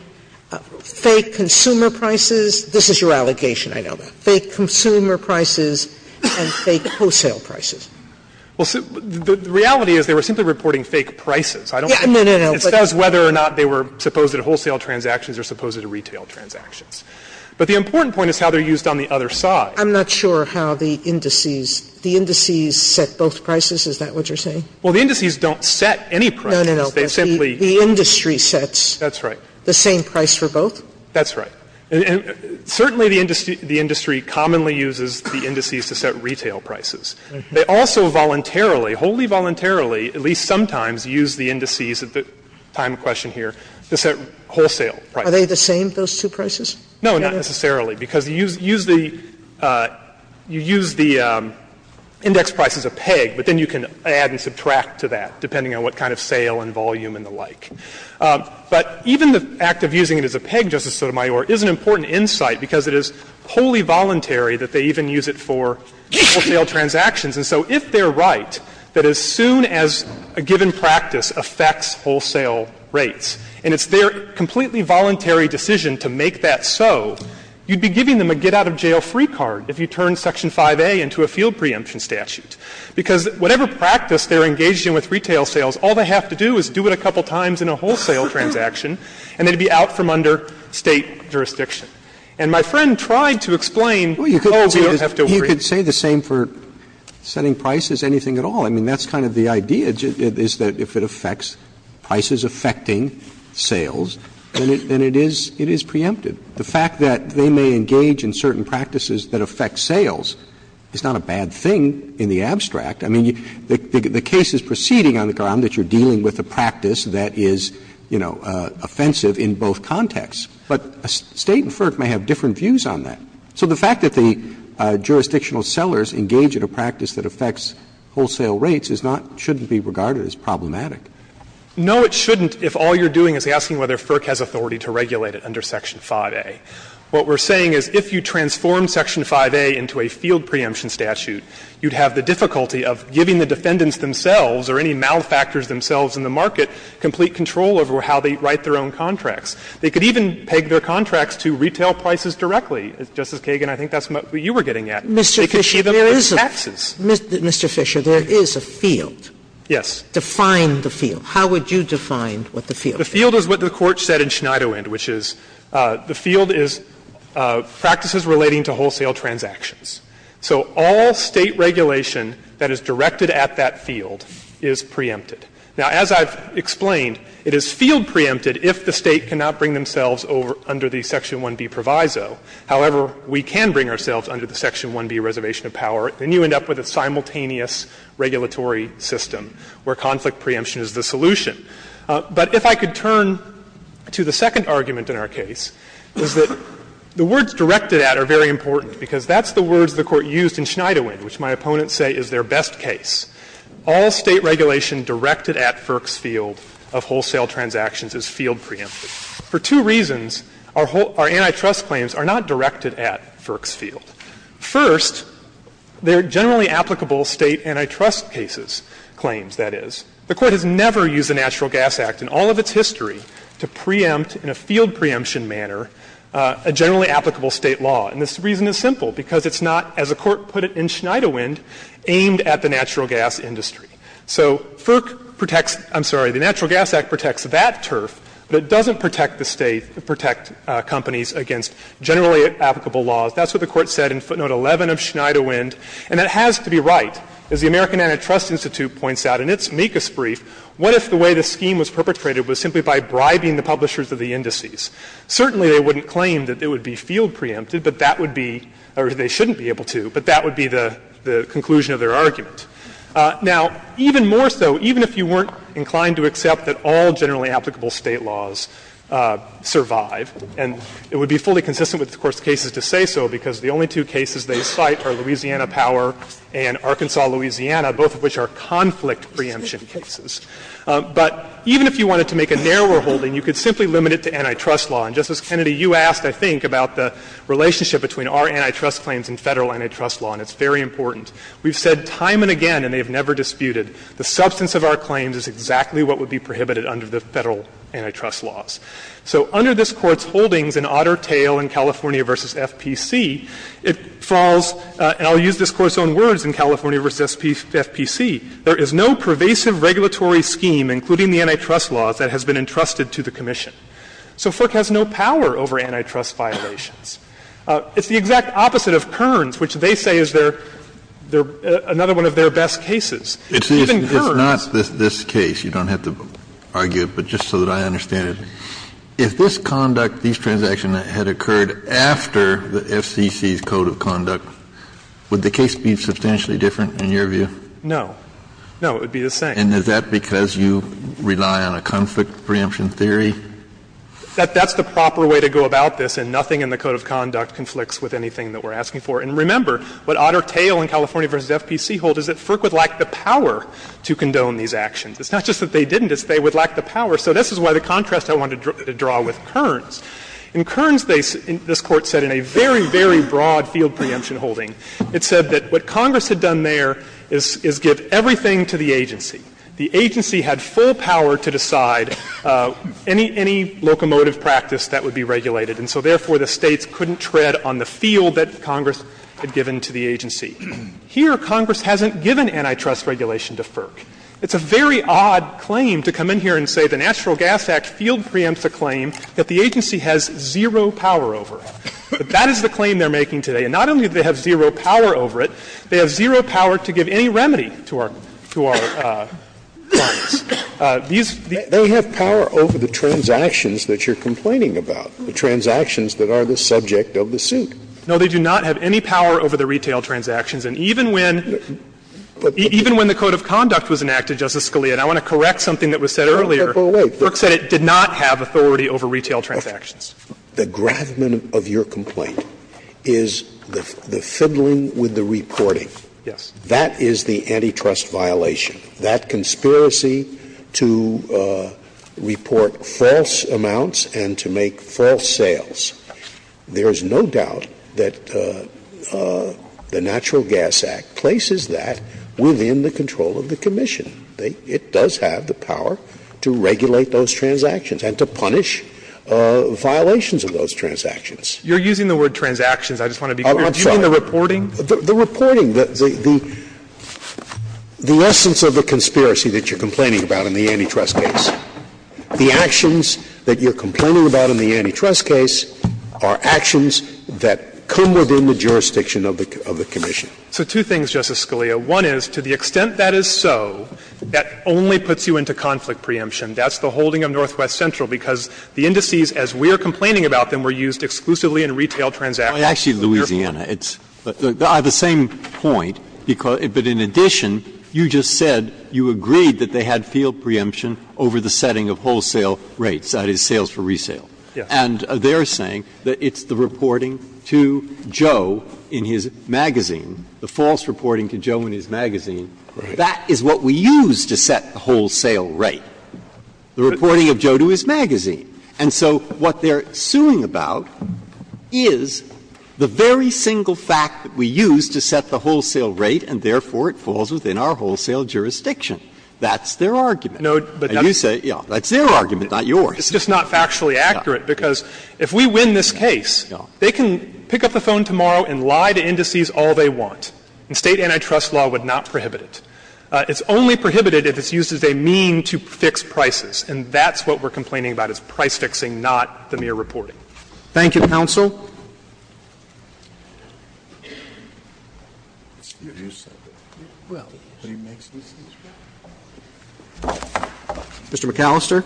fake consumer prices. This is your allegation, I know that. Fake consumer prices and fake wholesale prices. Fisher Well, the reality is they were simply reporting fake prices. I don't think it says whether or not they were supposed to wholesale transactions or supposed to retail transactions. But the important point is how they're used on the other side. Sotomayor I'm not sure how the indices, the indices set both prices, is that what you're saying? Fisher Well, the indices don't set any prices. Sotomayor No, no, no, the industry sets. Fisher That's right. Sotomayor The same price for both? Fisher That's right. And certainly the industry commonly uses the indices to set retail prices. They also voluntarily, wholly voluntarily, at least sometimes, use the indices at the time of question here to set wholesale prices. Sotomayor Are they the same, those two prices? Fisher No, not necessarily, because you use the index price as a peg, but then you can add and subtract to that, depending on what kind of sale and volume and the like. But even the act of using it as a peg, Justice Sotomayor, is an important insight because it is wholly voluntary that they even use it for wholesale transactions. And so if they're right, that as soon as a given practice affects wholesale rates, and it's their completely voluntary decision to make that so, you'd be giving them a get-out-of-jail-free card if you turn Section 5A into a field preemption statute, because whatever practice they're engaged in with retail sales, all they have to do is do it a couple times in a wholesale transaction, and they'd be out from under State jurisdiction. And my friend tried to explain, oh, you don't have to worry. Roberts You could say the same for setting prices, anything at all. I mean, that's kind of the idea, is that if it affects prices affecting sales, then it is preemptive. The fact that they may engage in certain practices that affect sales is not a bad thing in the abstract. I mean, the case is proceeding on the ground that you're dealing with a practice that is, you know, offensive in both contexts. But State and FERC may have different views on that. So the fact that the jurisdictional sellers engage in a practice that affects wholesale rates is not, shouldn't be regarded as problematic. Fisher No, it shouldn't, if all you're doing is asking whether FERC has authority to regulate it under Section 5A. What we're saying is if you transform Section 5A into a field preemption statute, you'd have the difficulty of giving the defendants themselves or any malfactors themselves in the market complete control over how they write their own contracts. They could even peg their contracts to retail prices directly. Justice Kagan, I think that's what you were getting at. They could see them as taxes. Sotomayor Mr. Fisher, there is a field. Sotomayor Define the field. How would you define what the field is? Fisher The field is what the Court said in Schneiderwind, which is the field is practices relating to wholesale transactions. So all State regulation that is directed at that field is preempted. Now, as I've explained, it is field preempted if the State cannot bring themselves over under the Section 1B proviso. However, we can bring ourselves under the Section 1B reservation of power, and you end up with a simultaneous regulatory system where conflict preemption is the solution. But if I could turn to the second argument in our case, is that the words directed at are very important, because that's the words the Court used in Schneiderwind, which my opponents say is their best case. All State regulation directed at FERC's field of wholesale transactions is field preempted. For two reasons, our antitrust claims are not directed at FERC's field. First, they are generally applicable State antitrust cases, claims, that is. The Court has never used the Natural Gas Act in all of its history to preempt in a field preemption manner a generally applicable State law. And the reason is simple, because it's not, as the Court put it in Schneiderwind, aimed at the natural gas industry. So FERC protects the Natural Gas Act protects that turf, but it doesn't protect the State, protect companies against generally applicable laws. That's what the Court said in footnote 11 of Schneiderwind, and that has to be right. As the American Antitrust Institute points out in its MECAS brief, what if the way the scheme was perpetrated was simply by bribing the publishers of the indices? Certainly, they wouldn't claim that it would be field preempted, but that would be, or they shouldn't be able to, but that would be the conclusion of their argument. Now, even more so, even if you weren't inclined to accept that all generally applicable laws are preempted, there are two cases to say so, because the only two cases they cite are Louisiana Power and Arkansas, Louisiana, both of which are conflict preemption cases. But even if you wanted to make a narrower holding, you could simply limit it to antitrust law. And, Justice Kennedy, you asked, I think, about the relationship between our antitrust claims and Federal antitrust law, and it's very important. We've said time and again, and they've never disputed, the substance of our claims is exactly what would be prohibited under the Federal antitrust laws. So under this Court's holdings in Otter Tail in California v. FPC, it falls, and I'll use this Court's own words, in California v. FPC, there is no pervasive regulatory scheme, including the antitrust laws, that has been entrusted to the Commission. So FERC has no power over antitrust violations. It's the exact opposite of Kern's, which they say is their — another one of their best cases. Even Kern's — Kennedy, I'm going to ask you a question, and then I'm going to ask you a question about the case. You don't have to argue it, but just so that I understand it. If this conduct, these transactions, had occurred after the FCC's code of conduct, would the case be substantially different in your view? No. No, it would be the same. And is that because you rely on a conflict preemption theory? That's the proper way to go about this, and nothing in the code of conduct conflicts with anything that we're asking for. And remember, what otter tail in California v. FPC hold is that FERC would lack the power to condone these actions. It's not just that they didn't, it's they would lack the power. So this is why the contrast I wanted to draw with Kern's. In Kern's case, this Court said in a very, very broad field preemption holding, it said that what Congress had done there is give everything to the agency. The agency had full power to decide any locomotive practice that would be regulated. And so, therefore, the States couldn't tread on the field that Congress had given to the agency. Here, Congress hasn't given antitrust regulation to FERC. It's a very odd claim to come in here and say the National Gas Act field preempts a claim that the agency has zero power over. That is the claim they're making today. And not only do they have zero power over it, they have zero power to give any remedy to our to our clients. These, these They have power over the transactions that you're complaining about. The transactions that are the subject of the suit. No, they do not have any power over the retail transactions. And even when, even when the code of conduct was enacted, Justice Scalia, and I want to correct something that was said earlier. FERC said it did not have authority over retail transactions. The gravamen of your complaint is the fiddling with the reporting. Yes. That is the antitrust violation. That conspiracy to report false amounts and to make false sales, there is no doubt that the Natural Gas Act places that within the control of the commission. They, it does have the power to regulate those transactions and to punish violations of those transactions. You're using the word transactions. I just want to be clear. Do you mean the reporting? The reporting. The essence of the conspiracy that you're complaining about in the antitrust case, the actions that you're complaining about in the antitrust case are actions that come within the jurisdiction of the commission. So two things, Justice Scalia. One is, to the extent that is so, that only puts you into conflict preemption. That's the holding of Northwest Central, because the indices, as we're complaining about them, were used exclusively in retail transactions. Actually, Louisiana. It's the same point, but in addition, you just said you agreed that they had field preemption over the setting of wholesale rates, that is, sales for resale. And they're saying that it's the reporting to Joe in his magazine, the false reporting to Joe in his magazine. That is what we use to set the wholesale rate, the reporting of Joe to his magazine. And so what they're suing about is the very single fact that we use to set the wholesale rate, and therefore it falls within our wholesale jurisdiction. That's their argument. And you say, yeah, that's their argument, not yours. It's just not factually accurate, because if we win this case, they can pick up the phone tomorrow and lie to indices all they want. And State antitrust law would not prohibit it. It's only prohibited if it's used as a mean to fix prices, and that's what we're doing, price fixing, not the mere reporting. Thank you, counsel. Mr. McAllister.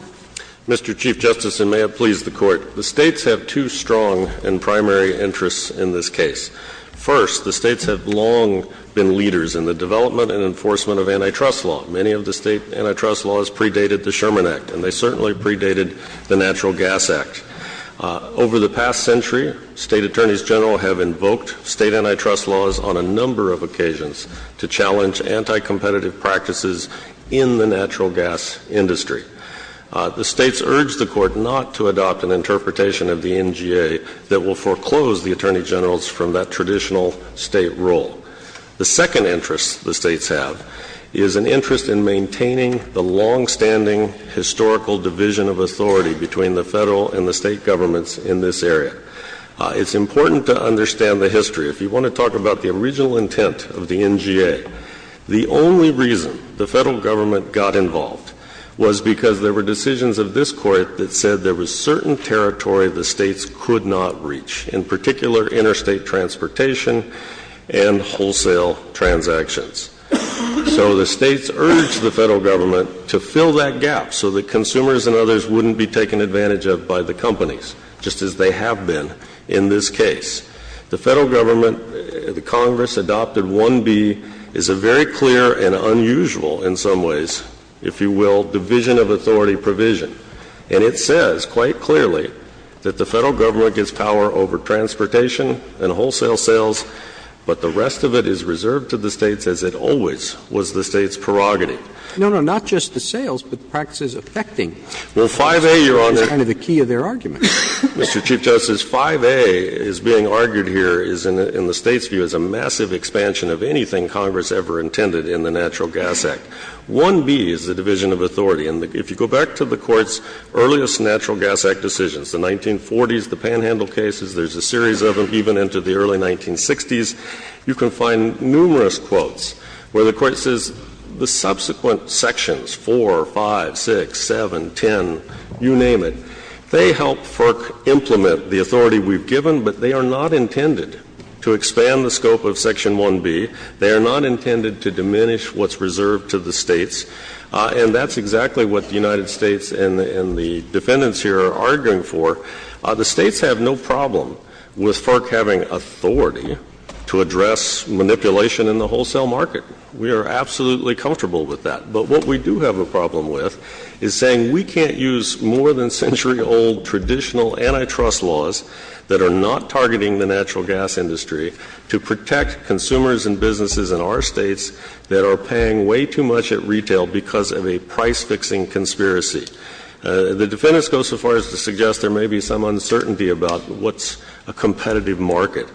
Mr. Chief Justice, and may it please the Court. The States have two strong and primary interests in this case. First, the States have long been leaders in the development and enforcement of antitrust law. Many of the State antitrust laws predated the Sherman Act, and they certainly predated the Natural Gas Act. Over the past century, State attorneys general have invoked State antitrust laws on a number of occasions to challenge anti-competitive practices in the natural gas industry. The States urge the Court not to adopt an interpretation of the NGA that will foreclose the attorney generals from that traditional State role. The second interest the States have is an interest in maintaining the longstanding historical division of authority between the Federal and the State governments in this area. It's important to understand the history. If you want to talk about the original intent of the NGA, the only reason the Federal government got involved was because there were decisions of this Court that said there was certain territory the States could not reach, in particular, interstate transportation and wholesale transactions. So the States urged the Federal government to fill that gap so that consumers and others wouldn't be taken advantage of by the companies, just as they have been in this case. The Federal government, the Congress adopted 1B, is a very clear and unusual, in some ways, if you will, division of authority provision. And it says quite clearly that the Federal government gets power over transportation and wholesale sales, but the rest of it is reserved to the States, as it always was the States' prerogative. Roberts. No, no, not just the sales, but the practices affecting the States is kind of the key of their argument. Mr. Chief Justice, 5A is being argued here is, in the States' view, is a massive expansion of anything Congress ever intended in the Natural Gas Act. 1B is the division of authority. And if you go back to the Court's earliest Natural Gas Act decisions, the 1940s, the panhandle cases, there's a series of them, even into the early 1960s, you can find numerous quotes where the Court says the subsequent sections, 4, 5, 6, 7, 10, you name it, they help FERC implement the authority we've given, but they are not intended to expand the scope of Section 1B. They are not intended to diminish what's reserved to the States. And that's exactly what the United States and the Defendants here are arguing for. The States have no problem with FERC having authority to address manipulation in the wholesale market. We are absolutely comfortable with that. But what we do have a problem with is saying we can't use more than century-old traditional antitrust laws that are not targeting the natural gas industry to protect consumers and businesses in our States that are paying way too much at retail because of a price-fixing conspiracy. The Defendants go so far as to suggest there may be some uncertainty about what's a competitive market.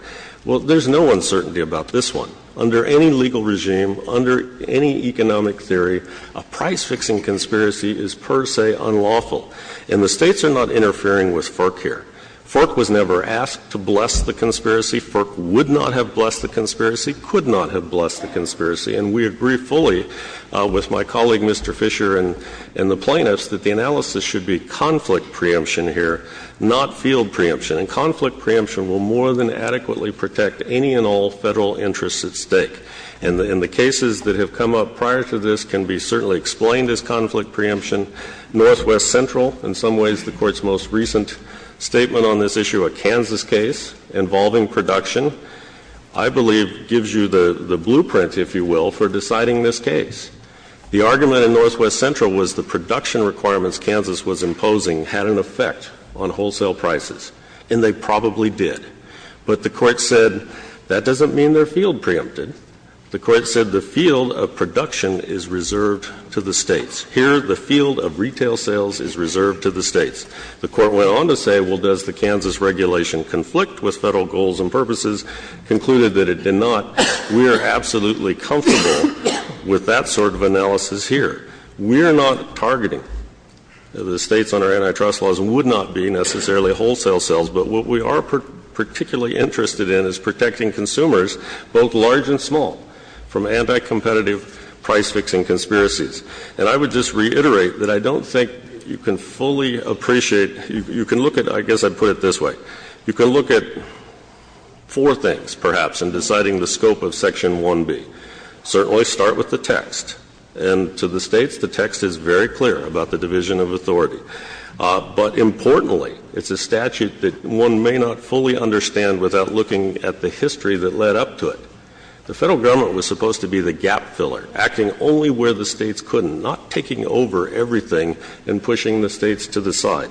Well, there's no uncertainty about this one. Under any legal regime, under any economic theory, a price-fixing conspiracy is per se unlawful. And the States are not interfering with FERC here. FERC was never asked to bless the conspiracy. And we agree fully with my colleague, Mr. Fisher, and the plaintiffs that the analysis should be conflict preemption here, not field preemption. And conflict preemption will more than adequately protect any and all Federal interests at stake. And the cases that have come up prior to this can be certainly explained as conflict preemption. Northwest Central, in some ways the Court's most recent statement on this issue, a Kansas case involving production, I believe gives you the blueprint, if you will, for deciding this case. The argument in Northwest Central was the production requirements Kansas was imposing had an effect on wholesale prices, and they probably did. But the Court said that doesn't mean they're field preempted. The Court said the field of production is reserved to the States. Here, the field of retail sales is reserved to the States. The Court went on to say, well, does the Kansas regulation conflict with Federal goals and purposes, concluded that it did not. We are absolutely comfortable with that sort of analysis here. We are not targeting the States under antitrust laws and would not be necessarily wholesale sales. But what we are particularly interested in is protecting consumers, both large and small, from anti-competitive price-fixing conspiracies. And I would just reiterate that I don't think you can fully appreciate, you can look at, I guess I'd put it this way, you can look at four things, perhaps, in deciding the scope of Section 1B. Certainly, start with the text. And to the States, the text is very clear about the division of authority. But importantly, it's a statute that one may not fully understand without looking at the history that led up to it. The Federal Government was supposed to be the gap filler, acting only where the States couldn't, not taking over everything and pushing the States to the side.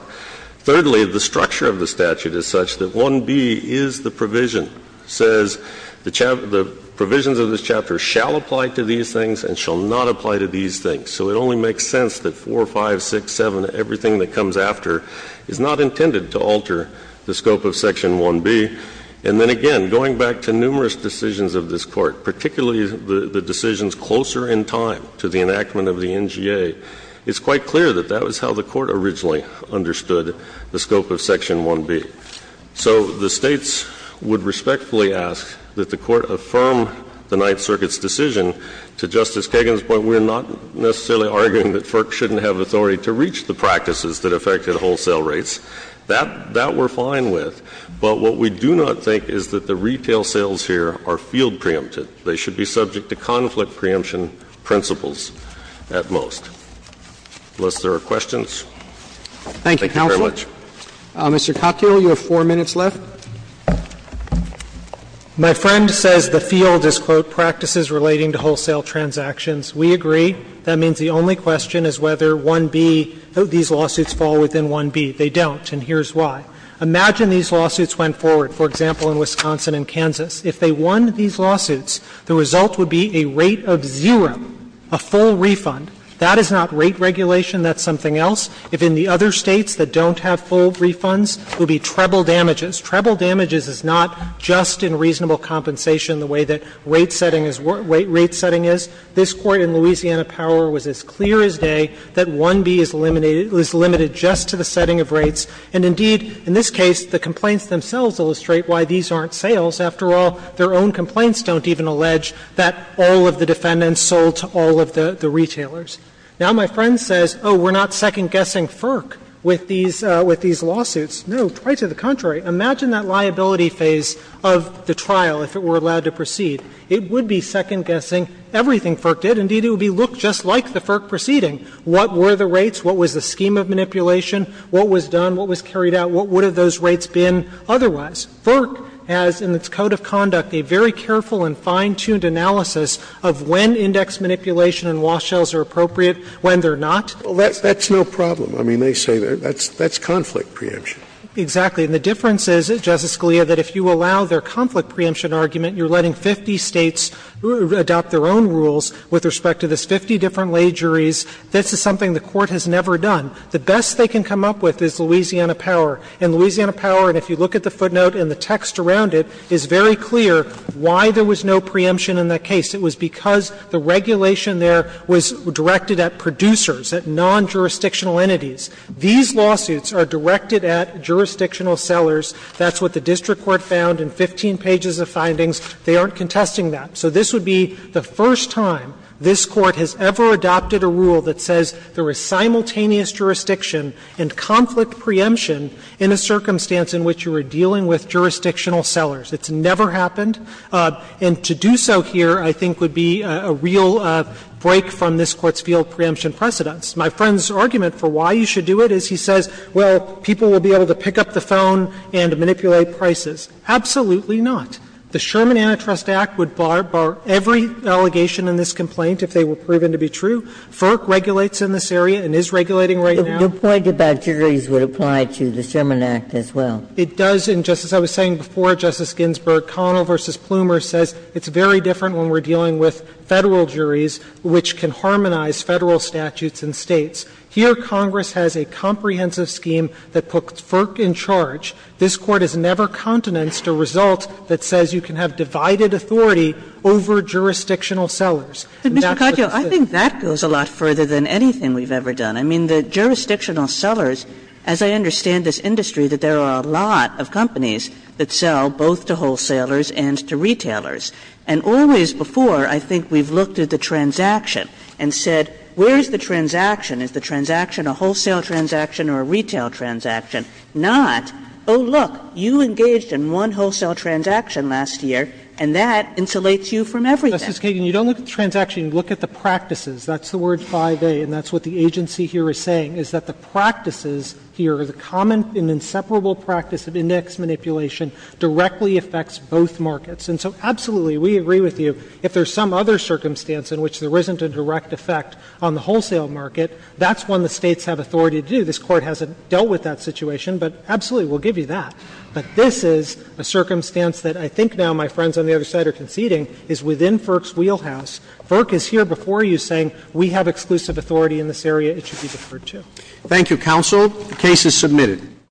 Thirdly, the structure of the statute is such that 1B is the provision, says the provisions of this chapter shall apply to these things and shall not apply to these things. So it only makes sense that 4, 5, 6, 7, everything that comes after is not intended to alter the scope of Section 1B. And then again, going back to numerous decisions of this Court, particularly the decisions closer in time to the enactment of the NGA, it's quite clear that that was how the Court originally understood the scope of Section 1B. So the States would respectfully ask that the Court affirm the Ninth Circuit's decision. To Justice Kagan's point, we're not necessarily arguing that FERC shouldn't have authority to reach the practices that affected wholesale rates. That we're fine with. But what we do not think is that the retail sales here are field preempted. They should be subject to conflict preemption principles at most. Unless there are questions. Thank you very much. Mr. Katyal, you have 4 minutes left. Katyal, you have 4 minutes left. My friend says the field is, quote, practices relating to wholesale transactions. We agree. That means the only question is whether 1B, these lawsuits fall within 1B. They don't, and here's why. Imagine these lawsuits went forward, for example, in Wisconsin and Kansas. If they won these lawsuits, the result would be a rate of zero, a full refund. That is not rate regulation. That's something else. If in the other States that don't have full refunds, it would be treble damages. Treble damages is not just in reasonable compensation the way that rate setting is, rate setting is. This Court in Louisiana Power was as clear as day that 1B is limited just to the setting of rates. And indeed, in this case, the complaints themselves illustrate why these aren't sales. After all, their own complaints don't even allege that all of the defendants sold to all of the retailers. Now, my friend says, oh, we're not second-guessing FERC with these lawsuits. No, quite to the contrary. Imagine that liability phase of the trial if it were allowed to proceed. It would be second-guessing everything FERC did. Indeed, it would be, look, just like the FERC proceeding. What were the rates? What was the scheme of manipulation? What was done? What was carried out? What would have those rates been otherwise? FERC has in its code of conduct a very careful and fine-tuned analysis of when index manipulation and wash sales are appropriate, when they're not. Scalia, that's no problem. I mean, they say that's conflict preemption. Exactly. And the difference is, Justice Scalia, that if you allow their conflict preemption argument, you're letting 50 States adopt their own rules with respect to this 50 different lay juries. This is something the Court has never done. The best they can come up with is Louisiana Power. And Louisiana Power, and if you look at the footnote and the text around it, is very clear why there was no preemption in that case. It was because the regulation there was directed at producers, at non-jurisdictional entities. These lawsuits are directed at jurisdictional sellers. That's what the district court found in 15 pages of findings. They aren't contesting that. So this would be the first time this Court has ever adopted a rule that says there is simultaneous jurisdiction and conflict preemption in a circumstance in which you are dealing with jurisdictional sellers. It's never happened. And to do so here, I think, would be a real break from this Court's field preemption precedents. My friend's argument for why you should do it is he says, well, people will be able to pick up the phone and manipulate prices. Absolutely not. The Sherman Antitrust Act would bar every allegation in this complaint if they were proven to be true. FERC regulates in this area and is regulating right now. Ginsburg. The point about juries would apply to the Sherman Act as well. It does, and just as I was saying before, Justice Ginsburg, Connell v. Plumer says it's very different when we're dealing with Federal juries which can harmonize Federal statutes and States. Here, Congress has a comprehensive scheme that puts FERC in charge. This Court has never countenanced a result that says you can have divided authority over jurisdictional sellers. And that's the thing. Kagan. Kagan. I think that goes a lot further than anything we've ever done. I mean, the jurisdictional sellers, as I understand this industry, that there are a lot of companies that sell both to wholesalers and to retailers. And always before, I think we've looked at the transaction and said, where is the transaction? Is the transaction a wholesale transaction or a retail transaction? Not, oh, look, you engaged in one wholesale transaction last year, and that insulates you from everything. Justice Kagan, you don't look at the transaction, you look at the practices. That's the word 5A, and that's what the agency here is saying, is that the practices here, the common and inseparable practice of index manipulation directly affects both markets. And so, absolutely, we agree with you, if there's some other circumstance in which there isn't a direct effect on the wholesale market, that's one the States have authority to do. This Court hasn't dealt with that situation, but absolutely, we'll give you that. But this is a circumstance that I think now my friends on the other side are conceding is within FERC's wheelhouse. FERC is here before you saying, we have exclusive authority in this area, it should be deferred to. Thank you, counsel. The case is submitted.